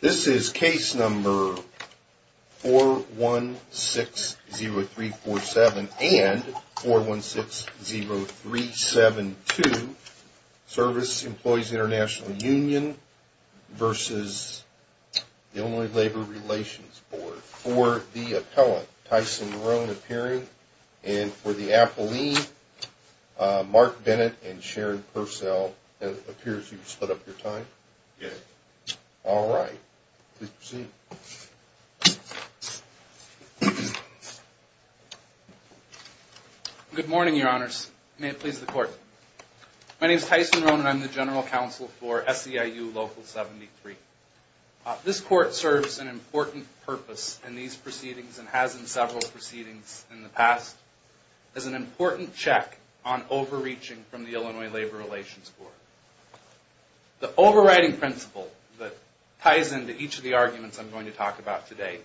This is case number 4160347 and 4160372, Service Employees International Union versus the Illinois Labor Relations Board. For the appellant, Tyson Marone appearing. And for the appellee, Mark Bennett and Sharon Purcell. It appears you've set up your time. All right. Please proceed. Good morning, your honors. May it please the court. My name is Tyson Marone and I'm the general counsel for SEIU Local 73. This court serves an important purpose in these proceedings and has in several proceedings in the past as an important check on overreaching from the Illinois Labor Relations Board. The overriding principle that ties into each of the arguments I'm going to talk about today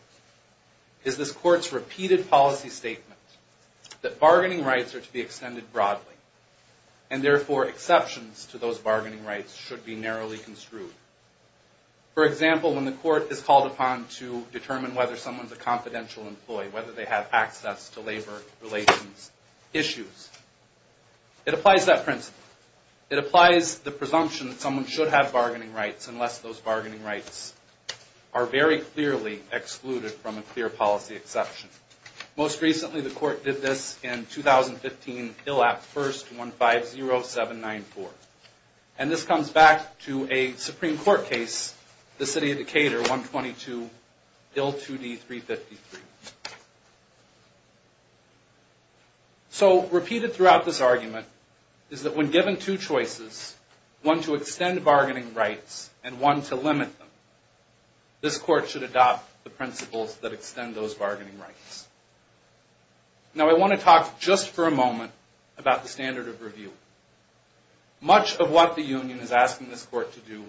is this court's repeated policy statement that bargaining rights are to be extended broadly and therefore exceptions to those bargaining rights should be narrowly construed. For example, when the court is called upon to determine whether someone's a confidential employee, whether they have access to labor relations issues, it applies that principle. It applies the presumption that someone should have bargaining rights unless those bargaining rights are very clearly excluded from a clear policy exception. Most recently the court did this in 2015 ILAP 1st 150794. And this comes back to a Supreme Court case, the City of Decatur 122 IL 2D 353. So repeated throughout this argument is that when given two choices, one to extend bargaining rights and one to limit them, this court should adopt the principles that extend those bargaining rights. Now I want to talk just for a moment about the standard of review. Much of what the union is asking this court to do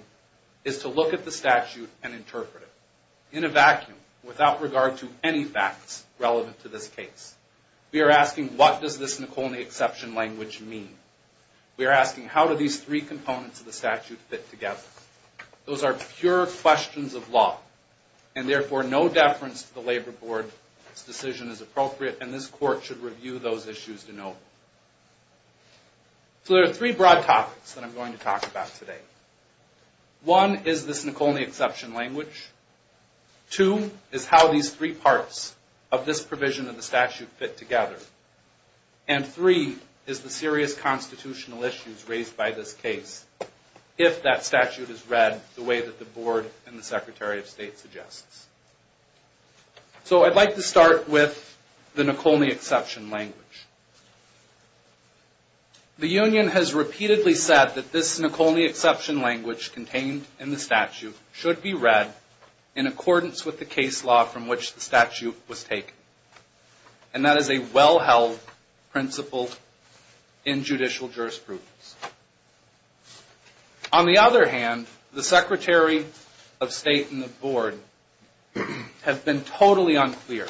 is to look at the statute and interpret it in a vacuum without regard to any facts relevant to this case. We are asking what does this Nacolni exception language mean? We are asking how do these three components of the statute fit together? Those are pure questions of law. And therefore no deference to the labor board's decision is appropriate and this court should review those issues to know. So there are three broad topics that I'm going to talk about today. One is this Nacolni exception language. Two is how these three parts of this provision of the statute fit together. And three is the serious constitutional issues raised by this case if that statute is read the way that the board and the Secretary of State suggests. So I'd like to start with the Nacolni exception language. The union has repeatedly said that this Nacolni exception language contained in the statute should be read in accordance with the case law from which the statute was taken. And that is a well-held principle in judicial jurisprudence. On the other hand, the Secretary of State and the board have been totally unclear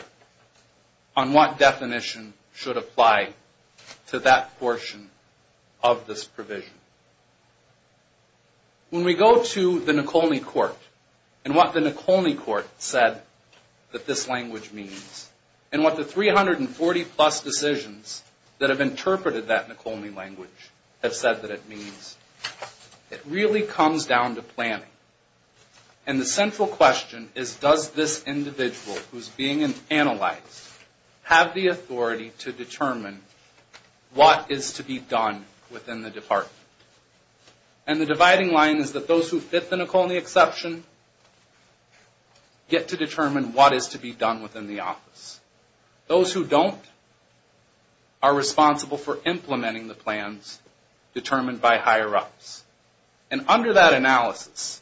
on what definition should apply to that portion of this provision. When we go to the Nacolni court and what the Nacolni court said that this language means and what the 340 plus decisions that have interpreted that Nacolni language have said that it means, it really comes down to planning. And the central question is does this individual who's being analyzed have the authority to determine what is to be done within the department. And the dividing line is that those who fit the Nacolni exception get to determine what is to be done within the office. Those who don't are responsible for implementing the plans determined by higher ups. And under that analysis,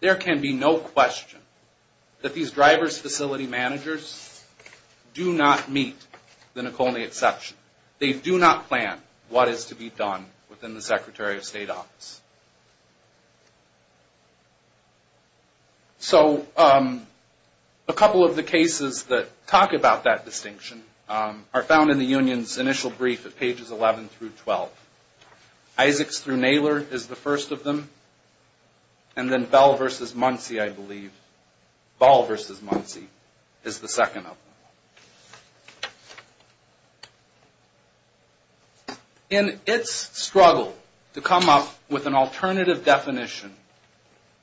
there can be no question that these driver's facility managers do not meet the Nacolni exception. They do not plan what is to be done within the Secretary of State office. So a couple of the cases that talk about that distinction are found in the union's initial brief at pages 11 through 12. Isaacs through Naylor is the first of them. And then Bell versus Muncie, I believe. Ball versus Muncie is the second of them. In its struggle to come up with an alternative definition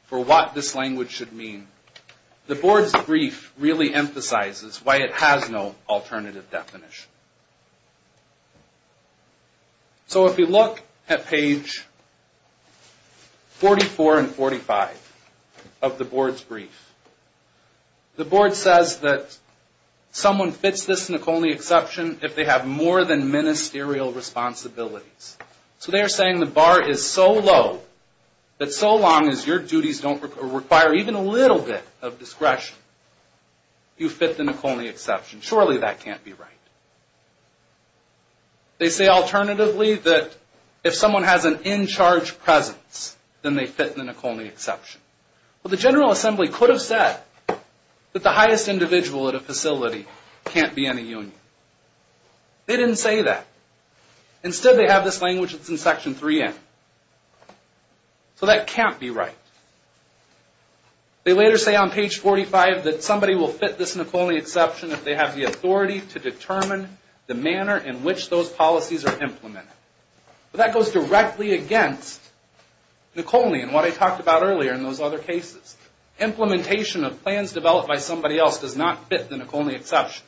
for what this language should mean, the board's brief really emphasizes why it has no alternative definition. So if you look at page 44 and 45 of the board's brief, the board says that someone fits this Nacolni exception if they have more than ministerial responsibilities. So they're saying the bar is so low that so long as your duties don't require even a little bit of discretion, you fit the Nacolni exception. Surely that can't be right. They say alternatively that if someone has an in-charge presence, then they fit the Nacolni exception. Well, the General Assembly could have said that the highest individual at a facility can't be in a union. They didn't say that. Instead, they have this language that's in section 3N. So that can't be right. They later say on page 45 that somebody will fit this Nacolni exception if they have the authority to determine the manner in which those policies are implemented. But that goes directly against Nacolni and what I talked about earlier in those other cases. Implementation of plans developed by somebody else does not fit the Nacolni exception.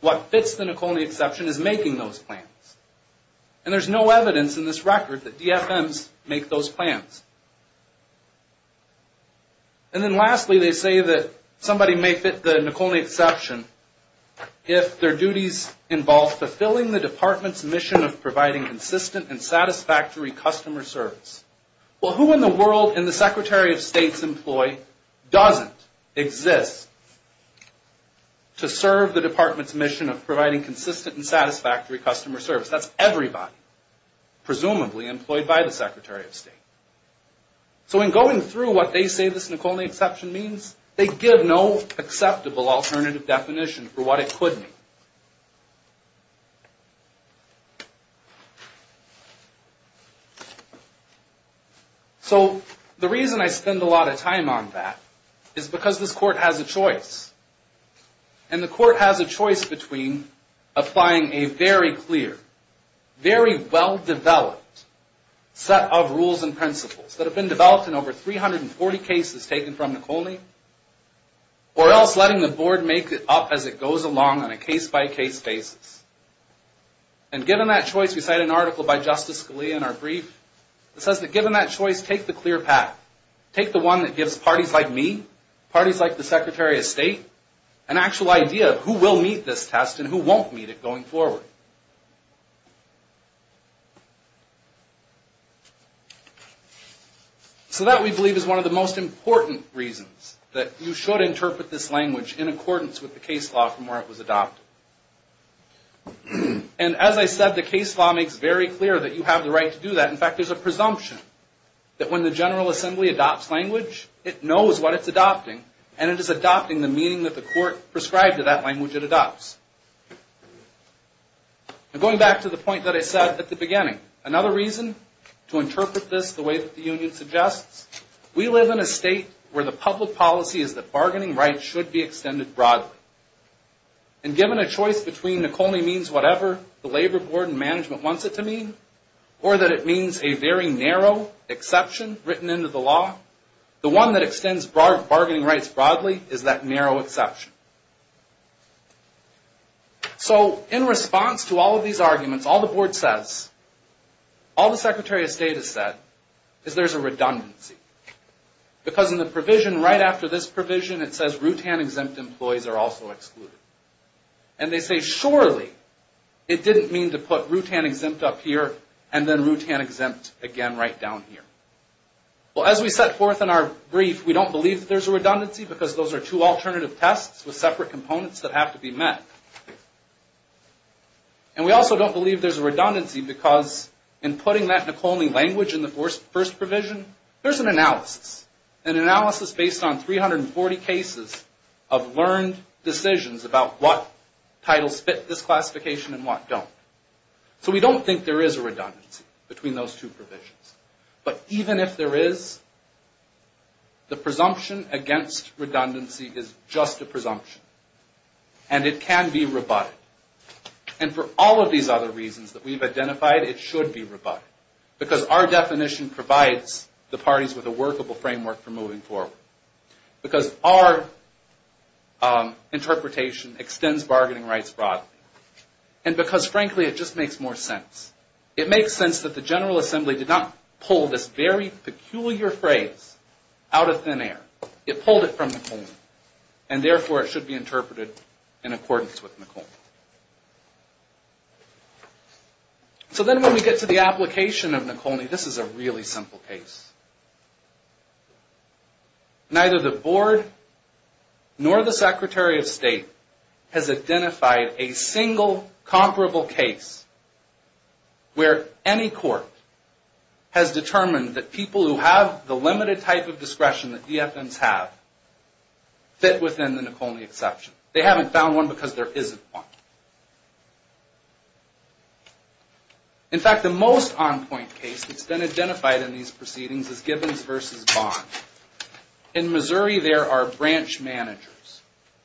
What fits the Nacolni exception is making those plans. And there's no evidence in this record that DFMs make those plans. And then lastly, they say that somebody may fit the Nacolni exception if their duties involve fulfilling the department's mission of providing consistent and satisfactory customer service. Well, who in the world in the Secretary of State's employ doesn't exist to serve the department's mission of providing consistent and satisfactory customer service? That's everybody, presumably, employed by the Secretary of State. So in going through what they say this Nacolni exception means, they give no acceptable alternative definition for what it could mean. So the reason I spend a lot of time on that is because this Court has a choice. And the Court has a choice between applying a very clear, very well-developed set of rules and principles that have been developed in over 340 cases taken from Nacolni, or else letting the Board make it up as it goes along on a case-by-case basis. And given that choice, we cite an article by Justice Scalia in our brief that says that given that choice, take the clear path. Take the one that gives parties like me, parties like the Secretary of State, an actual idea of who will meet this test and who won't meet it going forward. So that, we believe, is one of the most important reasons that you should interpret this language in accordance with the case law from where it was adopted. And as I said, the case law makes very clear that you have the right to do that. In fact, there's a presumption that when the General Assembly adopts language, it knows what it's adopting, and it is adopting the meaning that the Court prescribed to that language it adopts. And going back to the point that I said at the beginning, another reason to interpret this the way that the Union suggests, we live in a state where the public policy is that bargaining rights should be extended broadly. And given a choice between Nacolni means whatever the labor board and management wants it to mean, or that it means a very narrow exception written into the law, the one that extends bargaining rights broadly is that narrow exception. So, in response to all of these arguments, all the board says, all the Secretary of State has said, is there's a redundancy. Because in the provision right after this provision, it says Rootan-exempt employees are also excluded. And they say, surely, it didn't mean to put Rootan-exempt up here, and then Rootan-exempt again right down here. Well, as we set forth in our brief, we don't believe there's a redundancy because those are two alternative tests with separate components that have to be met. And we also don't believe there's a redundancy because in putting that Nacolni language in the first provision, there's an analysis. An analysis based on 340 cases of learned decisions about what titles fit this classification and what don't. So we don't think there is a redundancy between those two provisions. But even if there is, the presumption against redundancy is just a presumption. And it can be rebutted. And for all of these other reasons that we've identified, it should be rebutted because our definition provides the parties with a workable framework for moving forward. Because our interpretation extends bargaining rights broadly. And because, frankly, it just makes more sense. It makes sense that the General Assembly did not pull this very peculiar phrase out of thin air. It pulled it from Nacolni. And therefore, it should be interpreted in accordance with Nacolni. So then when we get to the application of Nacolni, this is a really simple case. Neither the Board nor the Secretary of State has identified a single comparable case where any court has determined that people who have the limited type of discretion that DFNs have fit within the Nacolni exception. They haven't found one because there isn't one. In fact, the most on-point case that's been identified in these proceedings is Gibbons v. Bond. In Missouri, there are branch managers.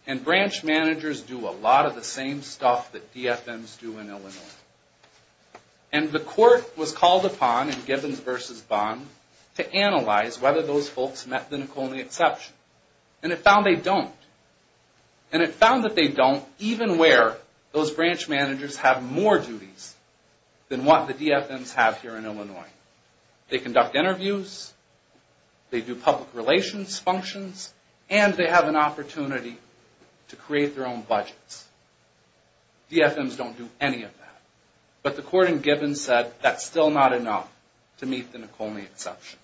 And branch managers do a lot of the same stuff that DFNs do in Illinois. And the court was called upon in Gibbons v. Bond to analyze whether those folks met the Nacolni exception. And it found they don't. And it found that they don't even where those branch managers have more duties than what the DFNs have here in Illinois. They conduct interviews. They do public relations functions. And they have an opportunity to create their own budgets. DFNs don't do any of that. But the court in Gibbons said that's still not enough to meet the Nacolni exception.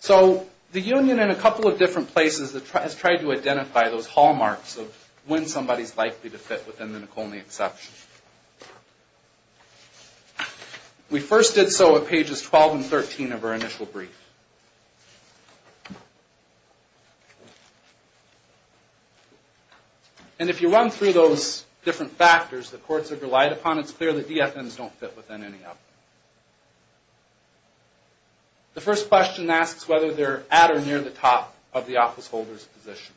So the union in a couple of different places has tried to identify those hallmarks of when somebody's likely to fit within the Nacolni exception. We first did so at pages 12 and 13 of our initial brief. And if you run through those different factors the courts have relied upon, it's clear that DFNs don't fit within any of them. The first question asks whether they're at or near the top of the office holder's position.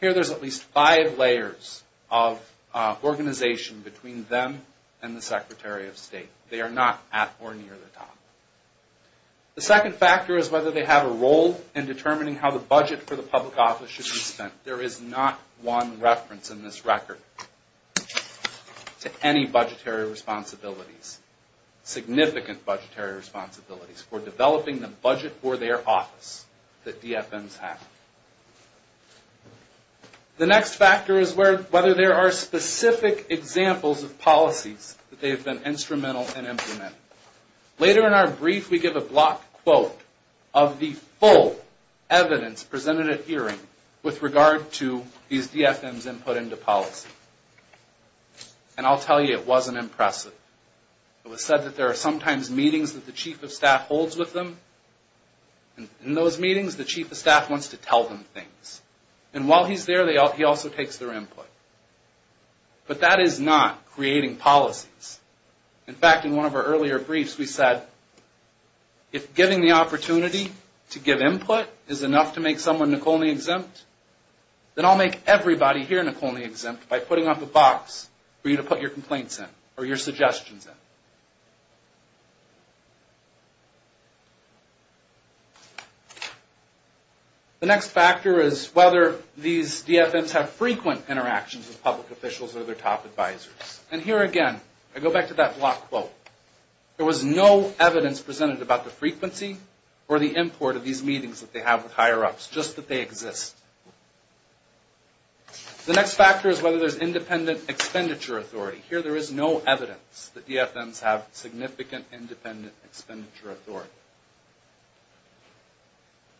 Here there's at least five layers of organization between them and the Secretary of State. They are not at or near the top. The second factor is whether they have a role in determining how the budget for the public office should be spent. There is not one reference in this record to any budgetary responsibilities, significant budgetary responsibilities, for developing the budget for their office that DFNs have. The next factor is whether there are specific examples of policies that they have been instrumental in implementing. Later in our brief we give a block quote of the full evidence presented at hearing with regard to these DFNs' input into policy. And I'll tell you, it wasn't impressive. It was said that there are sometimes meetings that the Chief of Staff holds with them. In those meetings the Chief of Staff wants to tell them things. And while he's there he also takes their input. But that is not creating policies. In fact, in one of our earlier briefs we said if giving the opportunity to give input is enough to make someone Nacolni-exempt, then I'll make everybody here Nacolni-exempt by putting up a box for you to put your complaints in or your suggestions in. The next factor is whether these DFNs have frequent interactions with public officials or their top advisors. And here again, I go back to that block quote. There was no evidence presented about the frequency or the import of these meetings that they have with higher-ups, just that they exist. The next factor is whether there's independent expenditure authority. Here there is no evidence that DFNs have significant independent expenditure authority.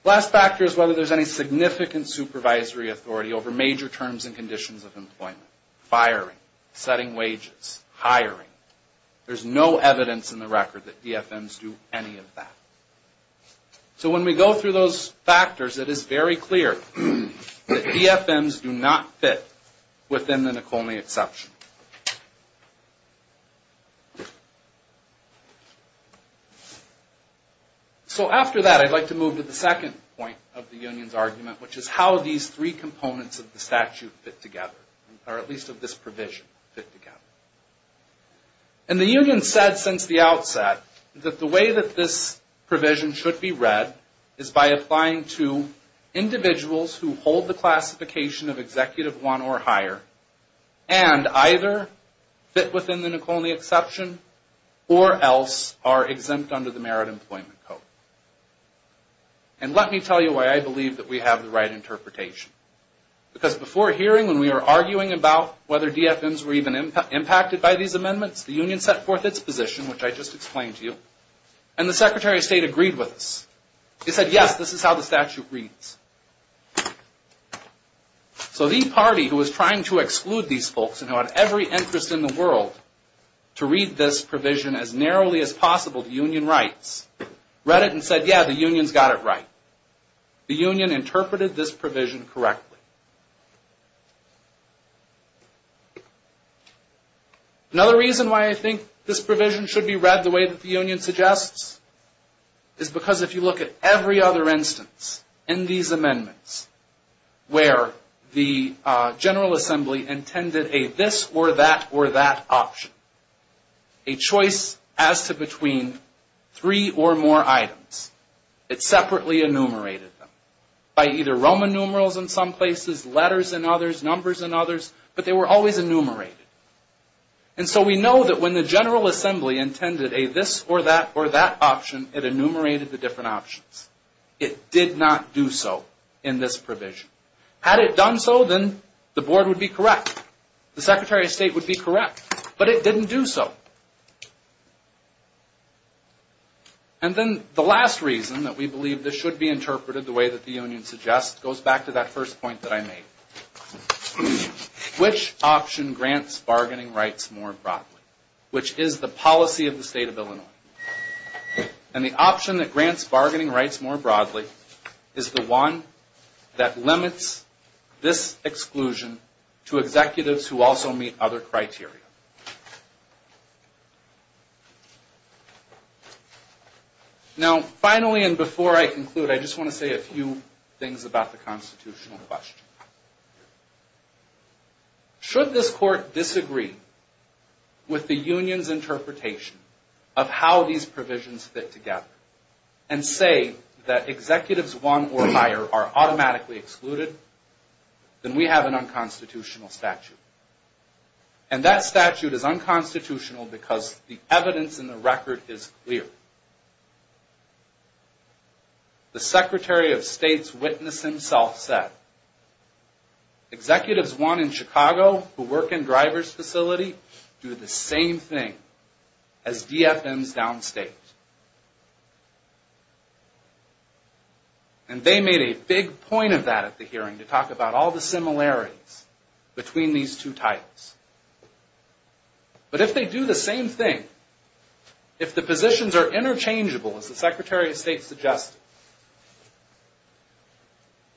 The last factor is whether there's any significant supervisory authority over major terms and conditions of employment. Firing, setting wages, hiring. There's no evidence in the record that DFNs do any of that. So when we go through those factors, it is very clear that DFNs do not fit within the Nacolni-exception. So after that, I'd like to move to the second point of the union's argument, which is how these three components of the statute fit together, or at least of this provision fit together. And the union said since the outset that the way that this provision should be read is by applying to individuals who hold the classification of executive one or higher and either fit within the Nacolni-exception or else are exempt under the Merit Employment Code. And let me tell you why I believe that we have the right interpretation. Because before hearing when we were arguing about whether DFNs were even impacted by these amendments, the union set forth its position, which I just explained to you, and the Secretary of State agreed with us. He said, yes, this is how the statute reads. So the party who was trying to exclude these folks and who had every interest in the world to read this provision as narrowly as possible to union rights read it and said, yeah, the union's got it right. The union interpreted this provision correctly. Another reason why I think this provision should be read the way that the union suggests is because if you look at every other instance in these amendments where the General Assembly intended a this or that or that option, a choice as to between three or more items, it separately enumerated them by either Roman numerals in some places, letters in others, numbers in others, but they were always enumerated. And so we know that when the General Assembly intended a this or that or that option, it enumerated the different options. It did not do so in this provision. Had it done so, then the board would be correct. The Secretary of State would be correct, but it didn't do so. And then the last reason that we believe this should be interpreted the way that the union suggests goes back to that first point that I made. Which option grants bargaining rights more broadly? Which is the policy of the State of Illinois. And the option that grants bargaining rights more broadly is the one that limits this exclusion to executives who also meet other criteria. Now, finally, and before I conclude, I just want to say a few things about the constitutional question. Should this court disagree with the union's interpretation of how these provisions fit together and say that executives one or higher are automatically excluded, then we have an unconstitutional statute. And that statute is unconstitutional because the evidence in the record is clear. The Secretary of State's witness himself said, executives one in Chicago who work in a driver's facility do the same thing as DFMs downstate. And they made a big point of that at the hearing to talk about all the similarities between these two titles. But if they do the same thing, if the positions are interchangeable, as the Secretary of State suggested,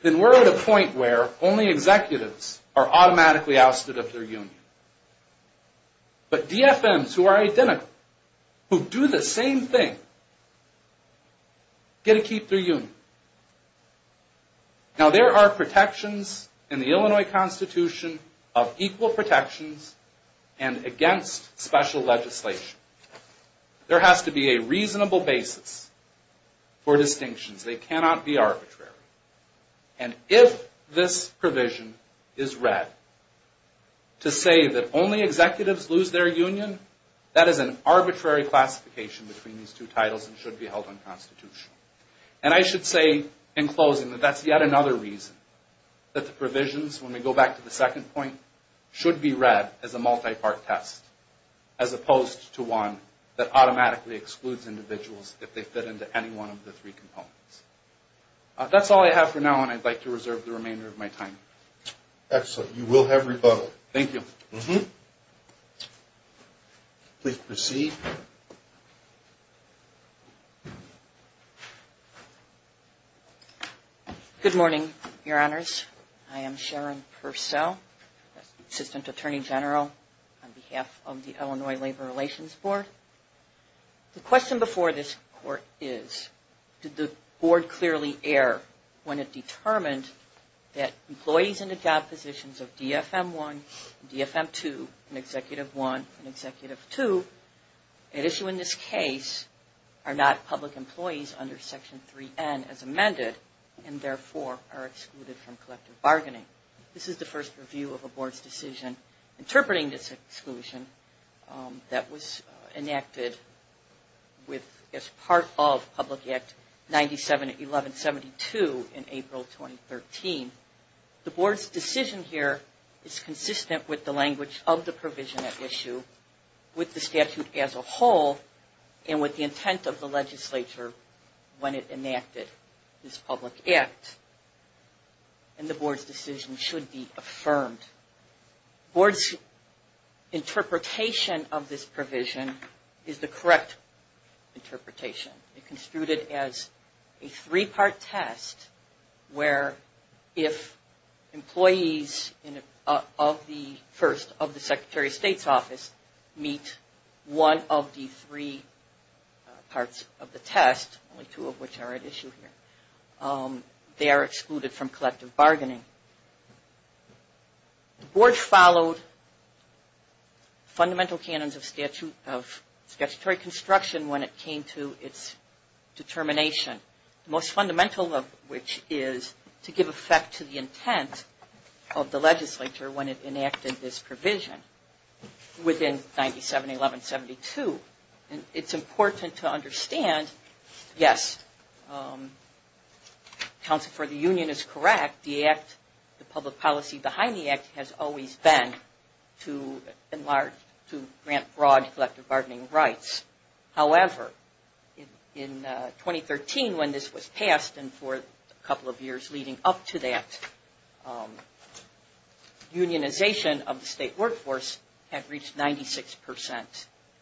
then we're at a point where only executives are automatically ousted of their union. But DFMs who are identical, who do the same thing, get to keep their union. Now there are protections in the Illinois Constitution of equal protections and against special legislation. There has to be a reasonable basis for distinctions. They cannot be arbitrary. And if this provision is read to say that only executives lose their union, that is an arbitrary classification between these two titles and should be held unconstitutional. And I should say in closing that that's yet another reason that the provisions, when we go back to the second point, should be read as a multi-part test as opposed to one that automatically excludes individuals if they fit into any one of the three components. That's all I have for now and I'd like to reserve the remainder of my time. Excellent. You will have rebuttal. Thank you. Please proceed. Good morning, Your Honors. I am Sharon Purcell, Assistant Attorney General on behalf of the Illinois Labor Relations Board. The question before this court is did the Board clearly err when it determined that employees in the job positions of DFM 1 and DFM 2 and Executive 1 and Executive 2 at issue in this case are not public employees under Section 3N as amended and therefore are excluded from collective bargaining. This is the first review of a Board's decision interpreting this exclusion that was enacted as part of Public Act 97-1172 in April 2013. The Board's decision here is consistent with the language of the provision at issue, with the statute as a whole and with the intent of the legislature when it enacted this public act and the Board's decision should be affirmed. Board's interpretation of this provision is the correct interpretation. It's construed as a three-part test where if employees of the Secretary of State's office meet one of the three parts of the test, only two of which are at issue here, they are excluded from collective bargaining. The Board followed fundamental canons of statutory construction when it came to its determination, the most fundamental of which is to give effect to the intent of the legislature when it enacted this provision within 97-1172 and it's important to understand yes, counsel for the union is correct, the act, the public policy behind the act has always been to grant broad collective bargaining rights. However, in 2013 when this was passed and for a couple of years leading up to that unionization of the state workforce had reached 96%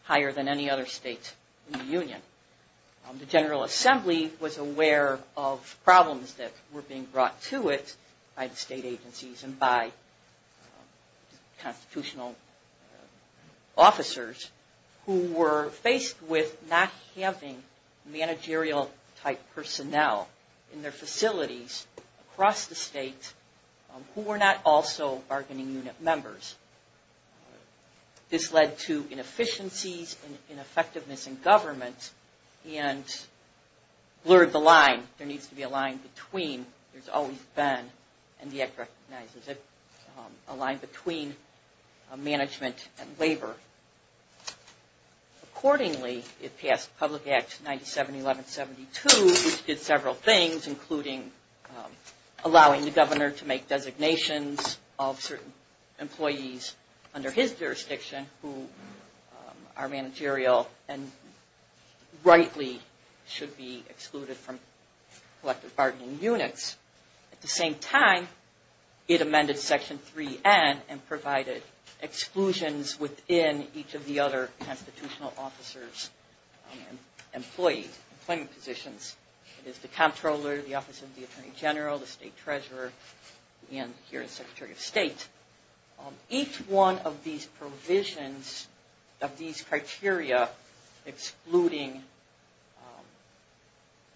higher than any other state union. The General Assembly was aware of problems that were being brought to it by the state agencies and by constitutional officers who were faced with not having managerial type personnel in their facilities across the state who were not also bargaining unit members. This led to inefficiencies, ineffectiveness in government and blurred the line. There needs to be a line between, there's always been and the act recognizes it, a line between management and labor. Accordingly, it passed Public Act 97-1172 which did several things including allowing the governor to make designations of certain employees under his jurisdiction who are managerial and rightly should be excluded from collective bargaining units. At the same time, it amended Section 3N and provided exclusions within each of the other constitutional officers and employees, employment positions. It is the Comptroller, the Office of the Attorney General, the State Treasurer and here the Secretary of State. Each one of these provisions of these criteria excluding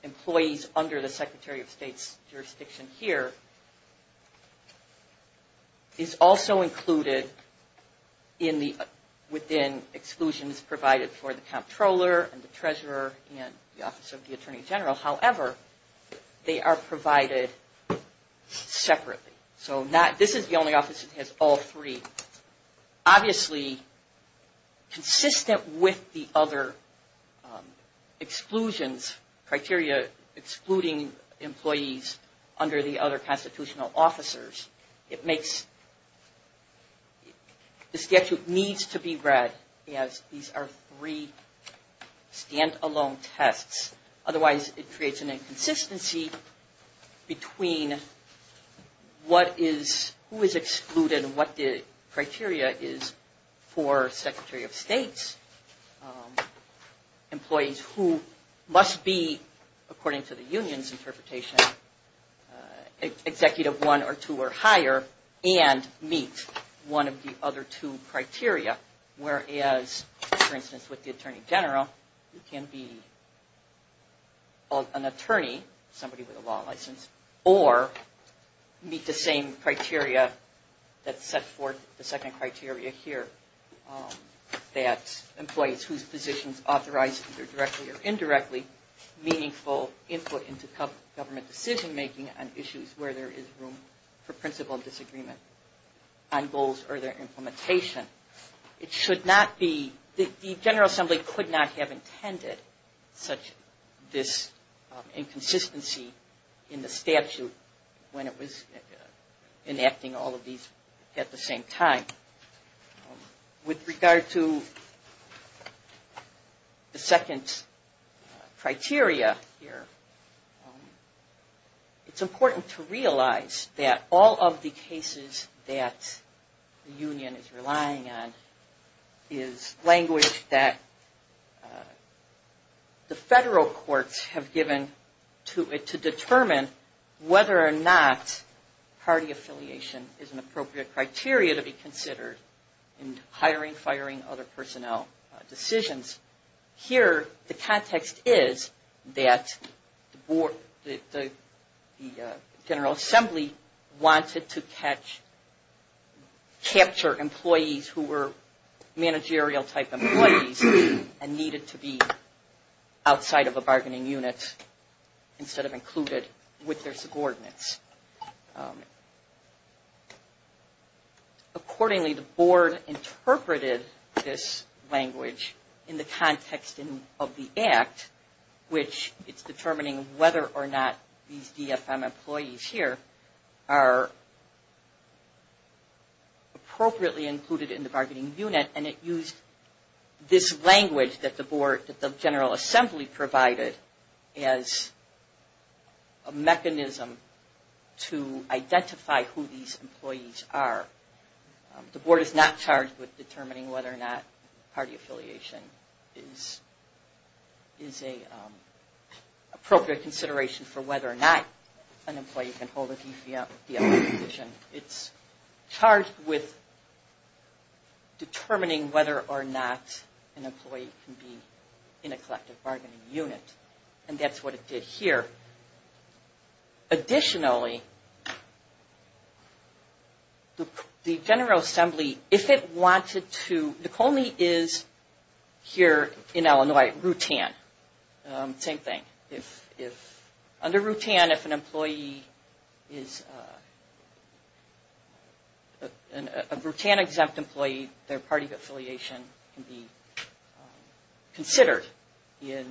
employees under the Secretary of State's jurisdiction here is also included within exclusions provided for the Comptroller and the Treasurer and the Office of the Attorney General. However, they are provided separately. This is the only office that has all three. Obviously, consistent with the other exclusions criteria excluding employees under the other constitutional officers. The statute needs to be read as these are three standalone tests. Otherwise, it creates an inconsistency between who is excluded and what the criteria is for Secretary of State's employees who must be according to the Union's interpretation Executive I or II or higher and meet one of the other two criteria whereas, for instance, with the Attorney General, you can be an attorney, somebody with a law license or meet the same criteria that set forth the second criteria here that employees whose positions authorized either directly or indirectly meaningful input into government decision making on issues where there is room for principled disagreement on goals or their implementation. It should not be, the General Assembly could not have intended such this inconsistency in the statute when it was enacting all of these at the same time. With regard to the second criteria here it's important to realize that all of the cases that the Union is relying on is language that the federal courts have given to determine whether or not party affiliation is an appropriate criteria to be considered in hiring, firing other personnel decisions. Here the context is that the General Assembly wanted to capture employees who were managerial type employees and needed to be instead of included with their subordinates. Accordingly, the Board interpreted this language in the context of the Act which is determining whether or not these DFM employees here are appropriately included in the bargaining unit and it used this language that the Board, that the General Assembly used as a mechanism to identify who these employees are. The Board is not charged with determining whether or not party affiliation is an appropriate consideration for whether or not an employee can hold a DFM position. It's charged with determining whether or not an employee can be in a collective bargaining unit and that's what it did here. Additionally, the General Assembly, if it wanted to, Nekomi is here in Illinois, Rutan, same thing. Under Rutan if an employee is a Rutan exempt employee their party affiliation can be considered in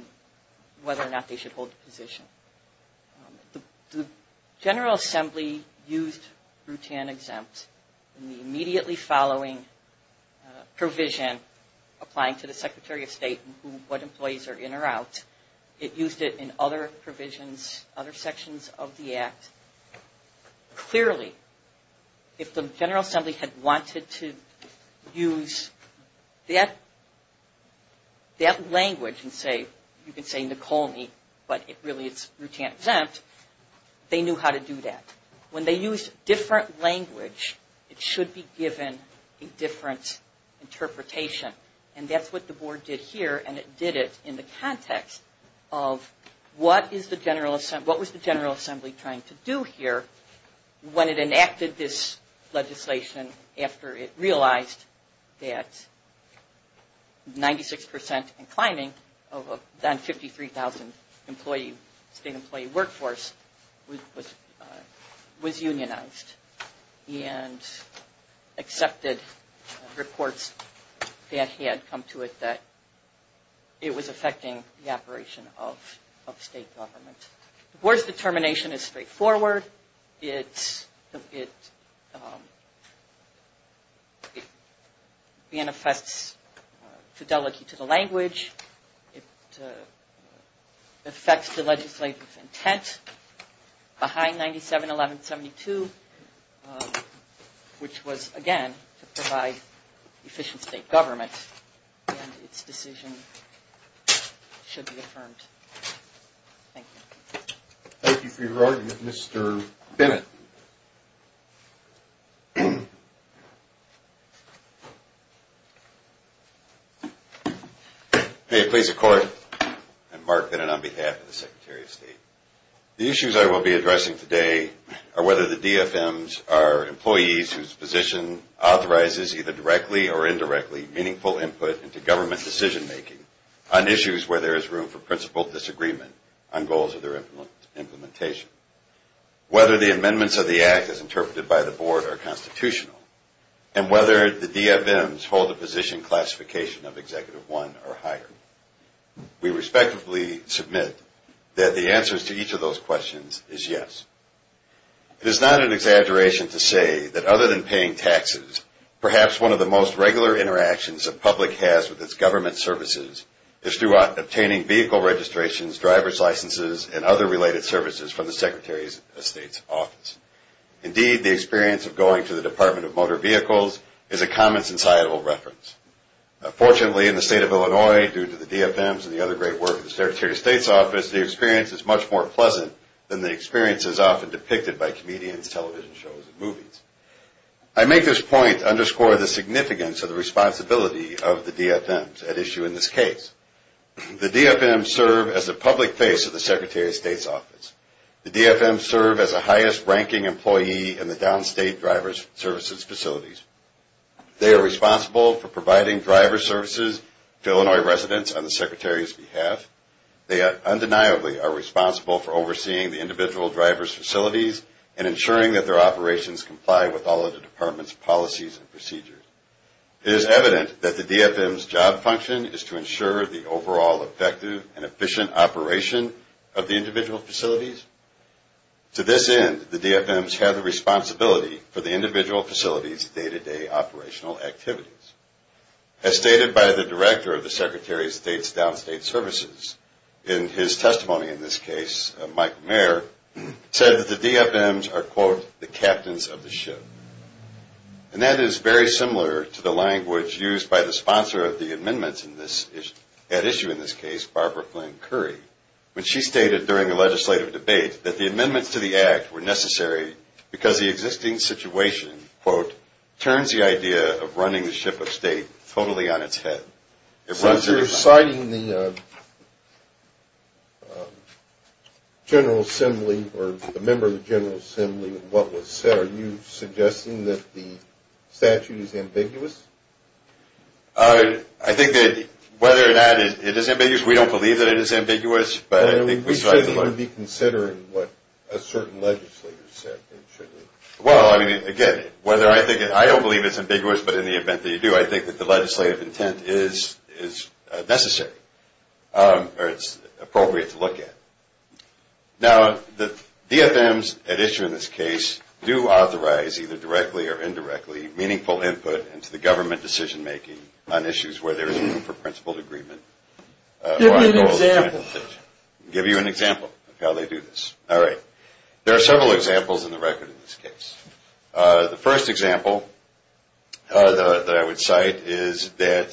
whether or not they should hold the position. The General Assembly used Rutan exempt in the immediately following provision applying to the Secretary of State what employees are in or out. It used it in other provisions, other sections of the Act. Clearly, if the General Assembly had wanted to use that language and say, you can say Nekomi but really it's Rutan exempt, they knew how to do that. When they used different language it should be given a different interpretation and that's what the Board did here and it did it in the context of what was the General Assembly trying to do here when it enacted this legislation after it realized that 96% inclining of a non-53,000 state employee workforce was unionized and accepted reports that had come to it that it was affecting the operation of the state government. It's very straightforward. It manifests fidelity to the language. It affects the legislative intent behind 97-11-72 which was again to provide efficient state government and its decision making should be affirmed. Thank you. Thank you for your argument, Mr. Bennett. May it please the Court, I'm Mark Bennett on behalf of the Secretary of State. The issues I will be addressing today are whether the DFMs are employees whose position authorizes either directly or indirectly meaningful input into government decision making on issues where there is room for principled disagreement on goals of their implementation. Whether the amendments of the Act as interpreted by the Board are constitutional and whether the DFMs hold a position classification of Executive I or higher. We respectively submit that the answers to each of those questions is yes. It is not an exaggeration to say that other than paying taxes, perhaps one of the most regular interactions the public has with its government services is through obtaining vehicle registrations, driver's licenses, and other related services from the Secretary of State's office. Indeed, the experience of going to the Department of Motor Vehicles is a common societal reference. Fortunately, in the state of Illinois due to the DFMs and the other great work of the Secretary of State's office, the experience is much more pleasant than the experiences often depicted by comedians, television shows, and movies. I make this point to underscore the significance of the responsibility of the DFMs at issue in this case. The DFMs serve as the public face of the Secretary of State's office. The DFMs serve as the highest ranking employee in the downstate driver services facilities. They are responsible for providing driver services to Illinois residents on the Secretary's behalf. They undeniably are responsible for overseeing the individual driver's facilities and ensuring that their operations comply with all of the Department's policies and procedures. It is evident that the DFM's job function is to ensure the overall effective and efficient operation of the individual facilities. To this end, the DFMs have the responsibility for the individual facility's day-to-day operational activities. As stated by the Director of the Secretary of State's downstate services, in his testimony in this case, Mike Mayer, said that the DFMs are, quote, the captains of the ship. And that is very similar to the language used by the sponsor of the amendments at issue in this case, Barbara Flynn Curry, when she stated during a legislative debate that the amendments to the Act were necessary because the existing situation, quote, turns the idea of running the ship of state totally on its head. Since you're citing the General Assembly or the member of the General Assembly what was said, are you suggesting that the statute is ambiguous? I think that whether or not it is ambiguous, we don't believe that it is ambiguous, but I think we should be considering what a certain legislator said it should be. Well, I mean, again, whether I think it, I don't believe it's ambiguous, but in the event that you do, I think that the legislative intent is necessary or it's appropriate to look at. Now, the DFMs at issue in this case do authorize, either directly or indirectly, meaningful input into the government decision-making on issues where there is room for principled agreement. Give me an example. I'll give you an example of how they do this. All right. There are several examples in the record in this case. The first example that I would cite is that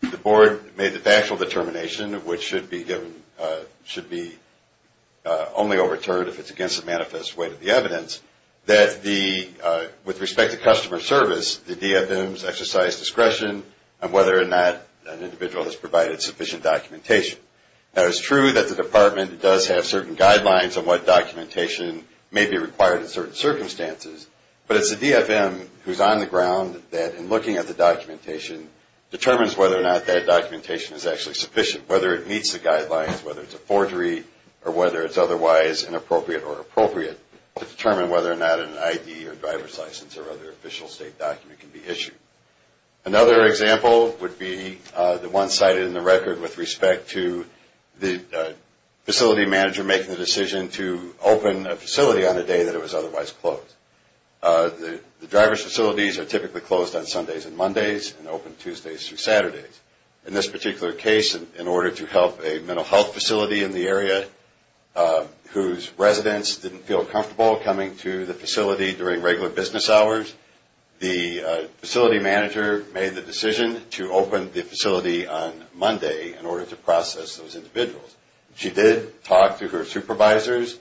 the board made the factual determination, which should be only overturned if it's against the manifest weight of the evidence, that the with respect to customer service, the DFMs exercise discretion on whether or not an individual has provided sufficient documentation. Now, it's true that the department does have certain guidelines on what documentation may be required in certain circumstances, but it's the DFM who's on the ground that in looking at the documentation determines whether or not that documentation is actually sufficient, whether it meets the guidelines, whether it's a forgery or whether it's otherwise inappropriate or appropriate to determine whether or not an ID or driver's license or other official state document can be issued. Another example would be the one cited in the record with respect to the facility manager making the decision to open a facility on a day that it was otherwise closed. The driver's facilities are typically closed on Sundays and Mondays and open Tuesdays through Saturdays. In this particular case, in order to help a mental health facility in the area whose residents didn't feel comfortable coming to the facility during regular business hours, the facility manager made the decision to open the facility on Monday in order to process those individuals. She did talk to her supervisors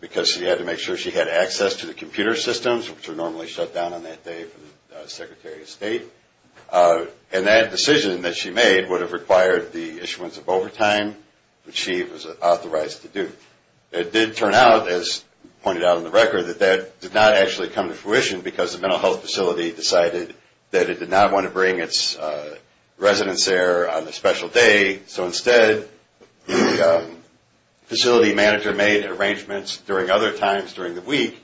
because she had to make sure she had access to the computer systems which are normally shut down on that day for the Secretary of State and that decision that she made would have required the issuance of overtime which she was authorized to do. It did turn out as pointed out in the record that that did not actually come to fruition because the mental health facility decided that it did not want to bring its residents there on a special day, so instead the facility manager made arrangements during other times during the week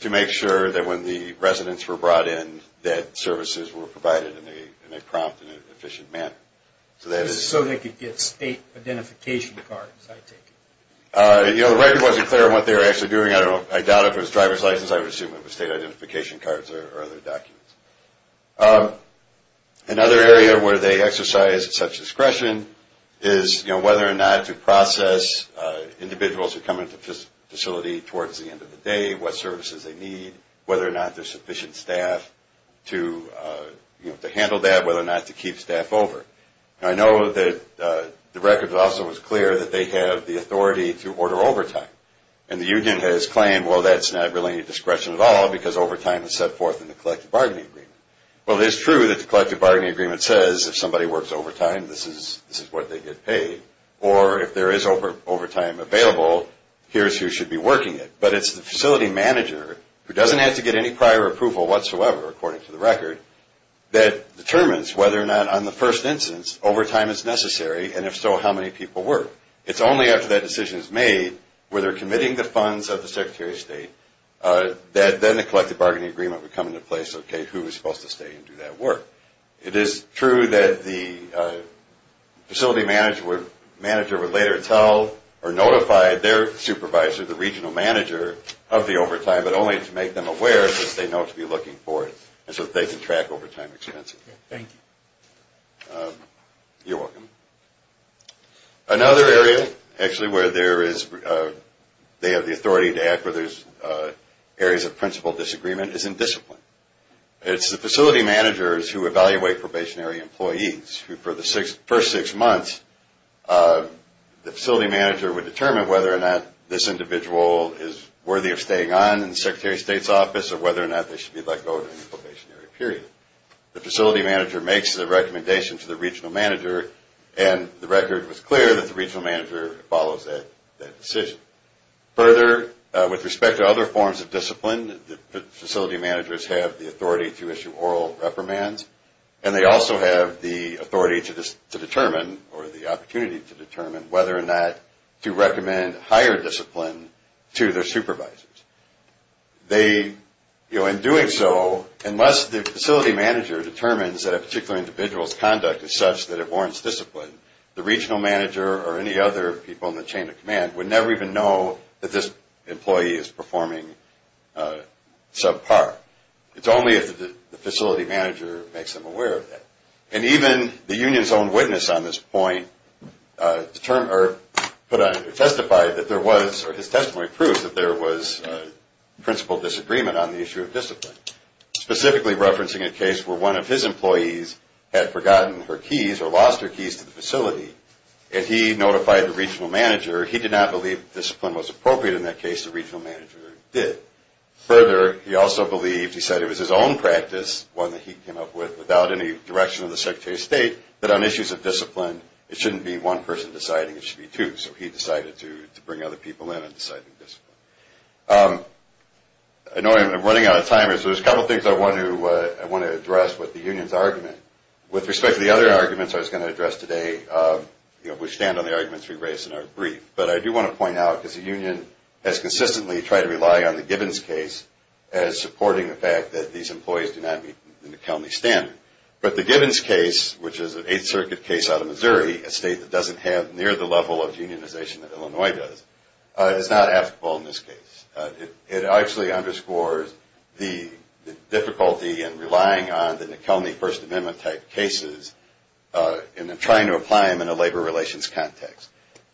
to make sure that when the residents were brought in that services were provided in a prompt and efficient manner. So they could get state identification cards, I take it. The record wasn't clear on what they were actually doing. I doubt if it was driver's license, I would assume it was state identification cards or other documents. Another area where they exercised such discretion is whether or not to process individuals who come into the facility towards the end of the day, what services they need, whether or not there's sufficient staff to handle that, whether or not to keep staff over. I know that the record also was clear that they have the authority to order overtime and the union has claimed, well, that's not really any discretion at all because overtime is set forth in the collective bargaining agreement. Well, it is true that the collective bargaining agreement says if somebody works overtime, this is what they get paid or if there is overtime available, here's who should be working it. But it's the facility manager who doesn't have to get any prior approval whatsoever, according to the record, that determines whether or not, on the first instance, overtime is necessary and if so, how many people work. It's only after that decision is made, where they're committing the funds of the Secretary of State, that then the collective bargaining agreement would come into place, okay, who is supposed to stay and do that work. It is true that the facility manager would later tell or notify their supervisor, the regional manager, of the overtime, but only to make them aware since they know what to be looking for so that they can track overtime expenses. You're welcome. Another area, actually, where there is, they have the authority to act where there is areas of principle disagreement is in discipline. It's the facility managers who evaluate probationary employees who, for the first six months, the facility manager would determine whether or not this individual is worthy of staying on in the Secretary of State's office or whether or not they should be let go during the probationary period. The facility manager makes the recommendation to the regional manager and the record was clear that the regional manager follows that decision. Further, with respect to other forms of discipline, the facility managers have the authority to issue oral reprimands and they also have the authority to determine or the opportunity to determine whether or not to recommend higher discipline to their supervisors. In doing so, unless the facility manager determines that a particular individual's conduct is such that it warrants discipline, the regional manager or any other people in the chain of command would never even know that this employee is performing subpar. It's only if the facility manager makes them aware of that. And even the union's own witness on this point testified that there was or his testimony proves that there was principle disagreement on the issue of discipline. Specifically referencing a case where one of his employees had forgotten her keys or lost her keys to the facility and he notified the regional manager, he did not believe discipline was appropriate in that case, the regional manager did. Further, he also believed, he said it was his own practice, one that he came up with without any direction of the Secretary of State, that on issues of discipline, it shouldn't be one person deciding, it should be two. So he decided to bring other people in on deciding discipline. I know I'm running out of time. There's a couple of things I want to address with the union's argument. With respect to the other arguments I was going to address today, we stand on the arguments we raised in our brief. But I do want to point out, because the union has consistently tried to rely on the Gibbons case as supporting the fact that these employees do not meet the McKelvey standard. But the Gibbons case, which is an Eighth Circuit case out of Missouri, a state that doesn't have near the level of unionization that Illinois does, is not applicable in this case. It actually underscores the difficulty in relying on the McKelvey First Amendment type cases and then trying to apply them in a labor relations context.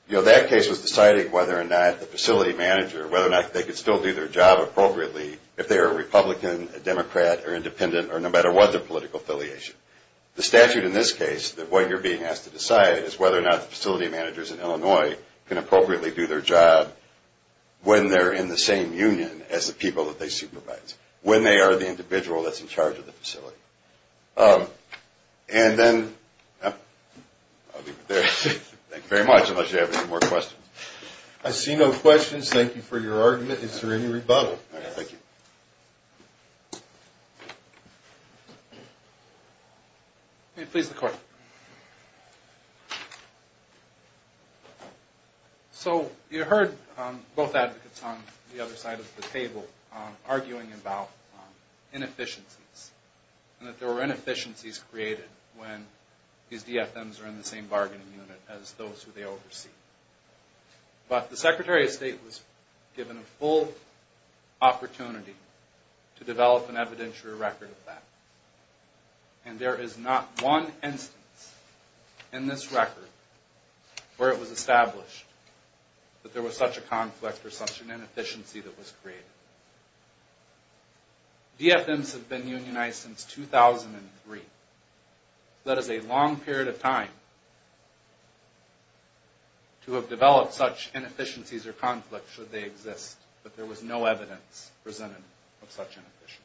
That case was deciding whether or not the facility manager, whether or not they could still do their job appropriately if they are a Republican, a Democrat, or independent, or no matter what their political affiliation. The statute in this case, that what you're being asked to decide, is whether or not facility managers in Illinois can appropriately do their job when they're in the same union as the people that they supervise, when they are the individual that's in charge of the facility. And then, I'll leave it there. Thank you very much, unless you have any more questions. I see no questions. Thank you for your argument. Is there any rebuttal? Please, the court. So, you heard both advocates on the other side of the table arguing about inefficiencies, and that there were inefficiencies created when these DFMs are in the same bargaining unit as those who they oversee. But the Secretary of State was given a full opportunity to develop an evidentiary record of that. And there is not one instance in this record where it was established that there was such a conflict or such an inefficiency that was created. DFMs have been unionized since 2003. That is a long period of time to have developed such inefficiencies or conflicts should they exist. But there was no evidence presented of such inefficiencies.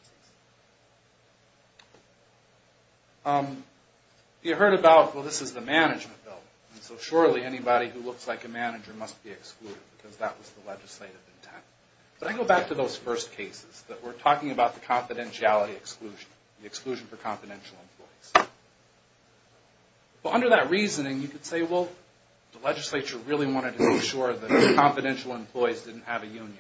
You heard about, well, this is the management bill, and so surely anybody who looks like a manager must be excluded because that was the legislative intent. But I go back to those first cases that were talking about the confidentiality exclusion, the exclusion for confidential employees. But under that reasoning, you could say, well, the legislature really wanted to make sure that confidential employees didn't have a union.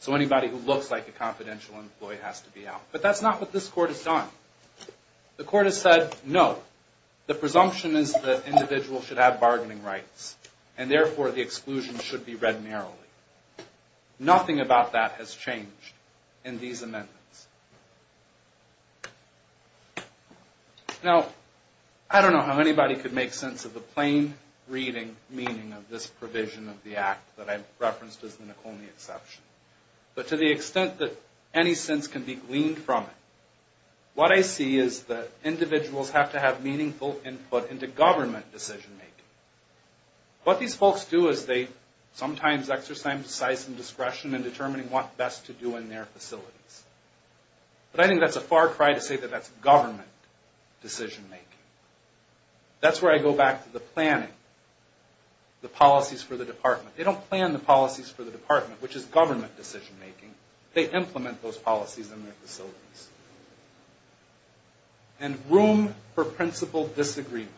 So anybody who looks like a confidential employee has to be out. But that's not what this Court has done. The Court has said, no, the presumption is that individuals should have bargaining rights, and therefore the exclusion should be read narrowly. Nothing about that has changed in these amendments. Now, I don't know how anybody could make sense of the plain reading meaning of this provision of the Act that I referenced as the Nacone exception. But to the extent that any sense can be gleaned from it, what I see is that individuals have to have meaningful input into government decision-making. What these folks do is they sometimes exercise some discretion in determining what best to do in their facilities. But I think that's a far cry to say that that's government decision-making. That's where I go back to the planning, the policies for the department. They don't plan the policies for the department, which is government decision-making. They implement those policies in their facilities. And room for principle disagreement.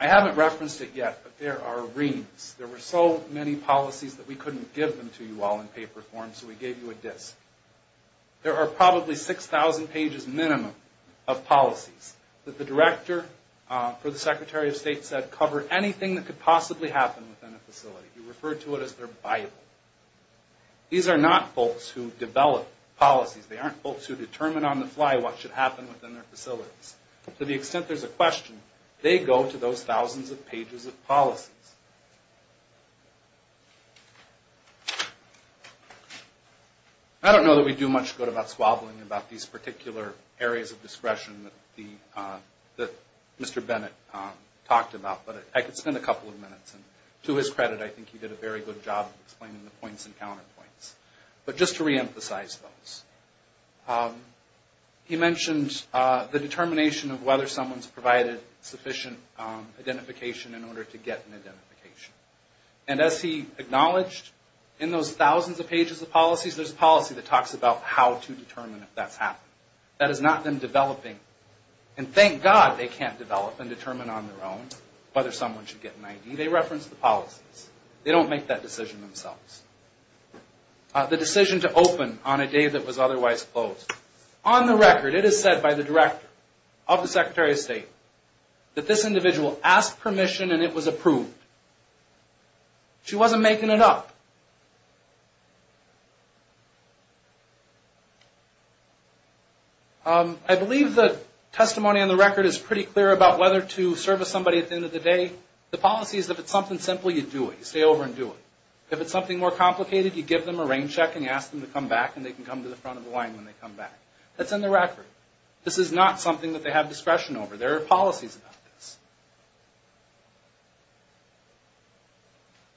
I haven't referenced it yet, but there are reams. There were so many policies that we couldn't give them to you all in paper form, so we gave you a disc. There are probably 6,000 pages minimum of policies that the director for the Secretary of State said covered anything that could possibly happen within a facility. He referred to it as their Bible. These are not folks who develop policies. They aren't folks who determine on the fly what should happen within their facilities. To the extent there's a question, they go to those thousands of pages of policies. I don't know that we do much good about squabbling about these particular areas of discretion that Mr. Bennett talked about, but I could spend a couple of minutes. And to his credit, I think he did a very good job explaining the points and counterpoints. But just to reemphasize those. He mentioned the determination of whether someone's provided sufficient identification in order to get an identification. And as he acknowledged, in those thousands of pages of policies, there's a policy that talks about how to determine if that's happened. That is not them developing. And thank God they can't develop and determine on their own whether someone should get an ID. They reference the policies. They don't make that decision themselves. The decision to open on a day that was otherwise closed. On the record, it is said by the director of the Secretary of State that this individual asked permission and it was approved. She wasn't making it up. I believe the testimony on the record is pretty clear about whether to service somebody at the end of the day. The policy is if it's something simple, you do it. You stay over and do it. If it's something more complicated, you give them a rain check and you ask them to come back and they can come to the front of the line when they come back. That's on the record. This is not something that they have discretion over. There are policies about this.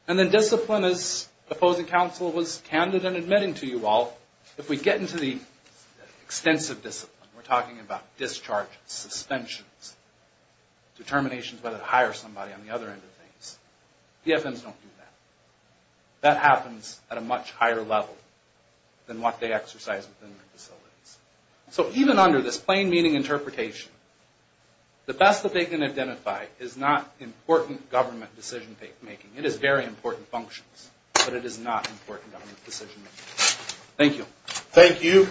And then discipline, as opposing counsel was candid in admitting to you all, if we get into the extensive discipline, we're talking about discharges, suspensions, determinations whether to hire somebody on the other end of things. DFMs don't do that. That happens at a much higher level than what they exercise within their facilities. So even under this plain meaning interpretation, the best that they can identify is not important government decision-making. It is very important functions, but it is not important government decision-making. Thank you. Thank you.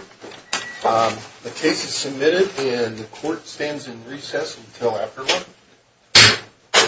The case is submitted and the court stands in recess until after lunch.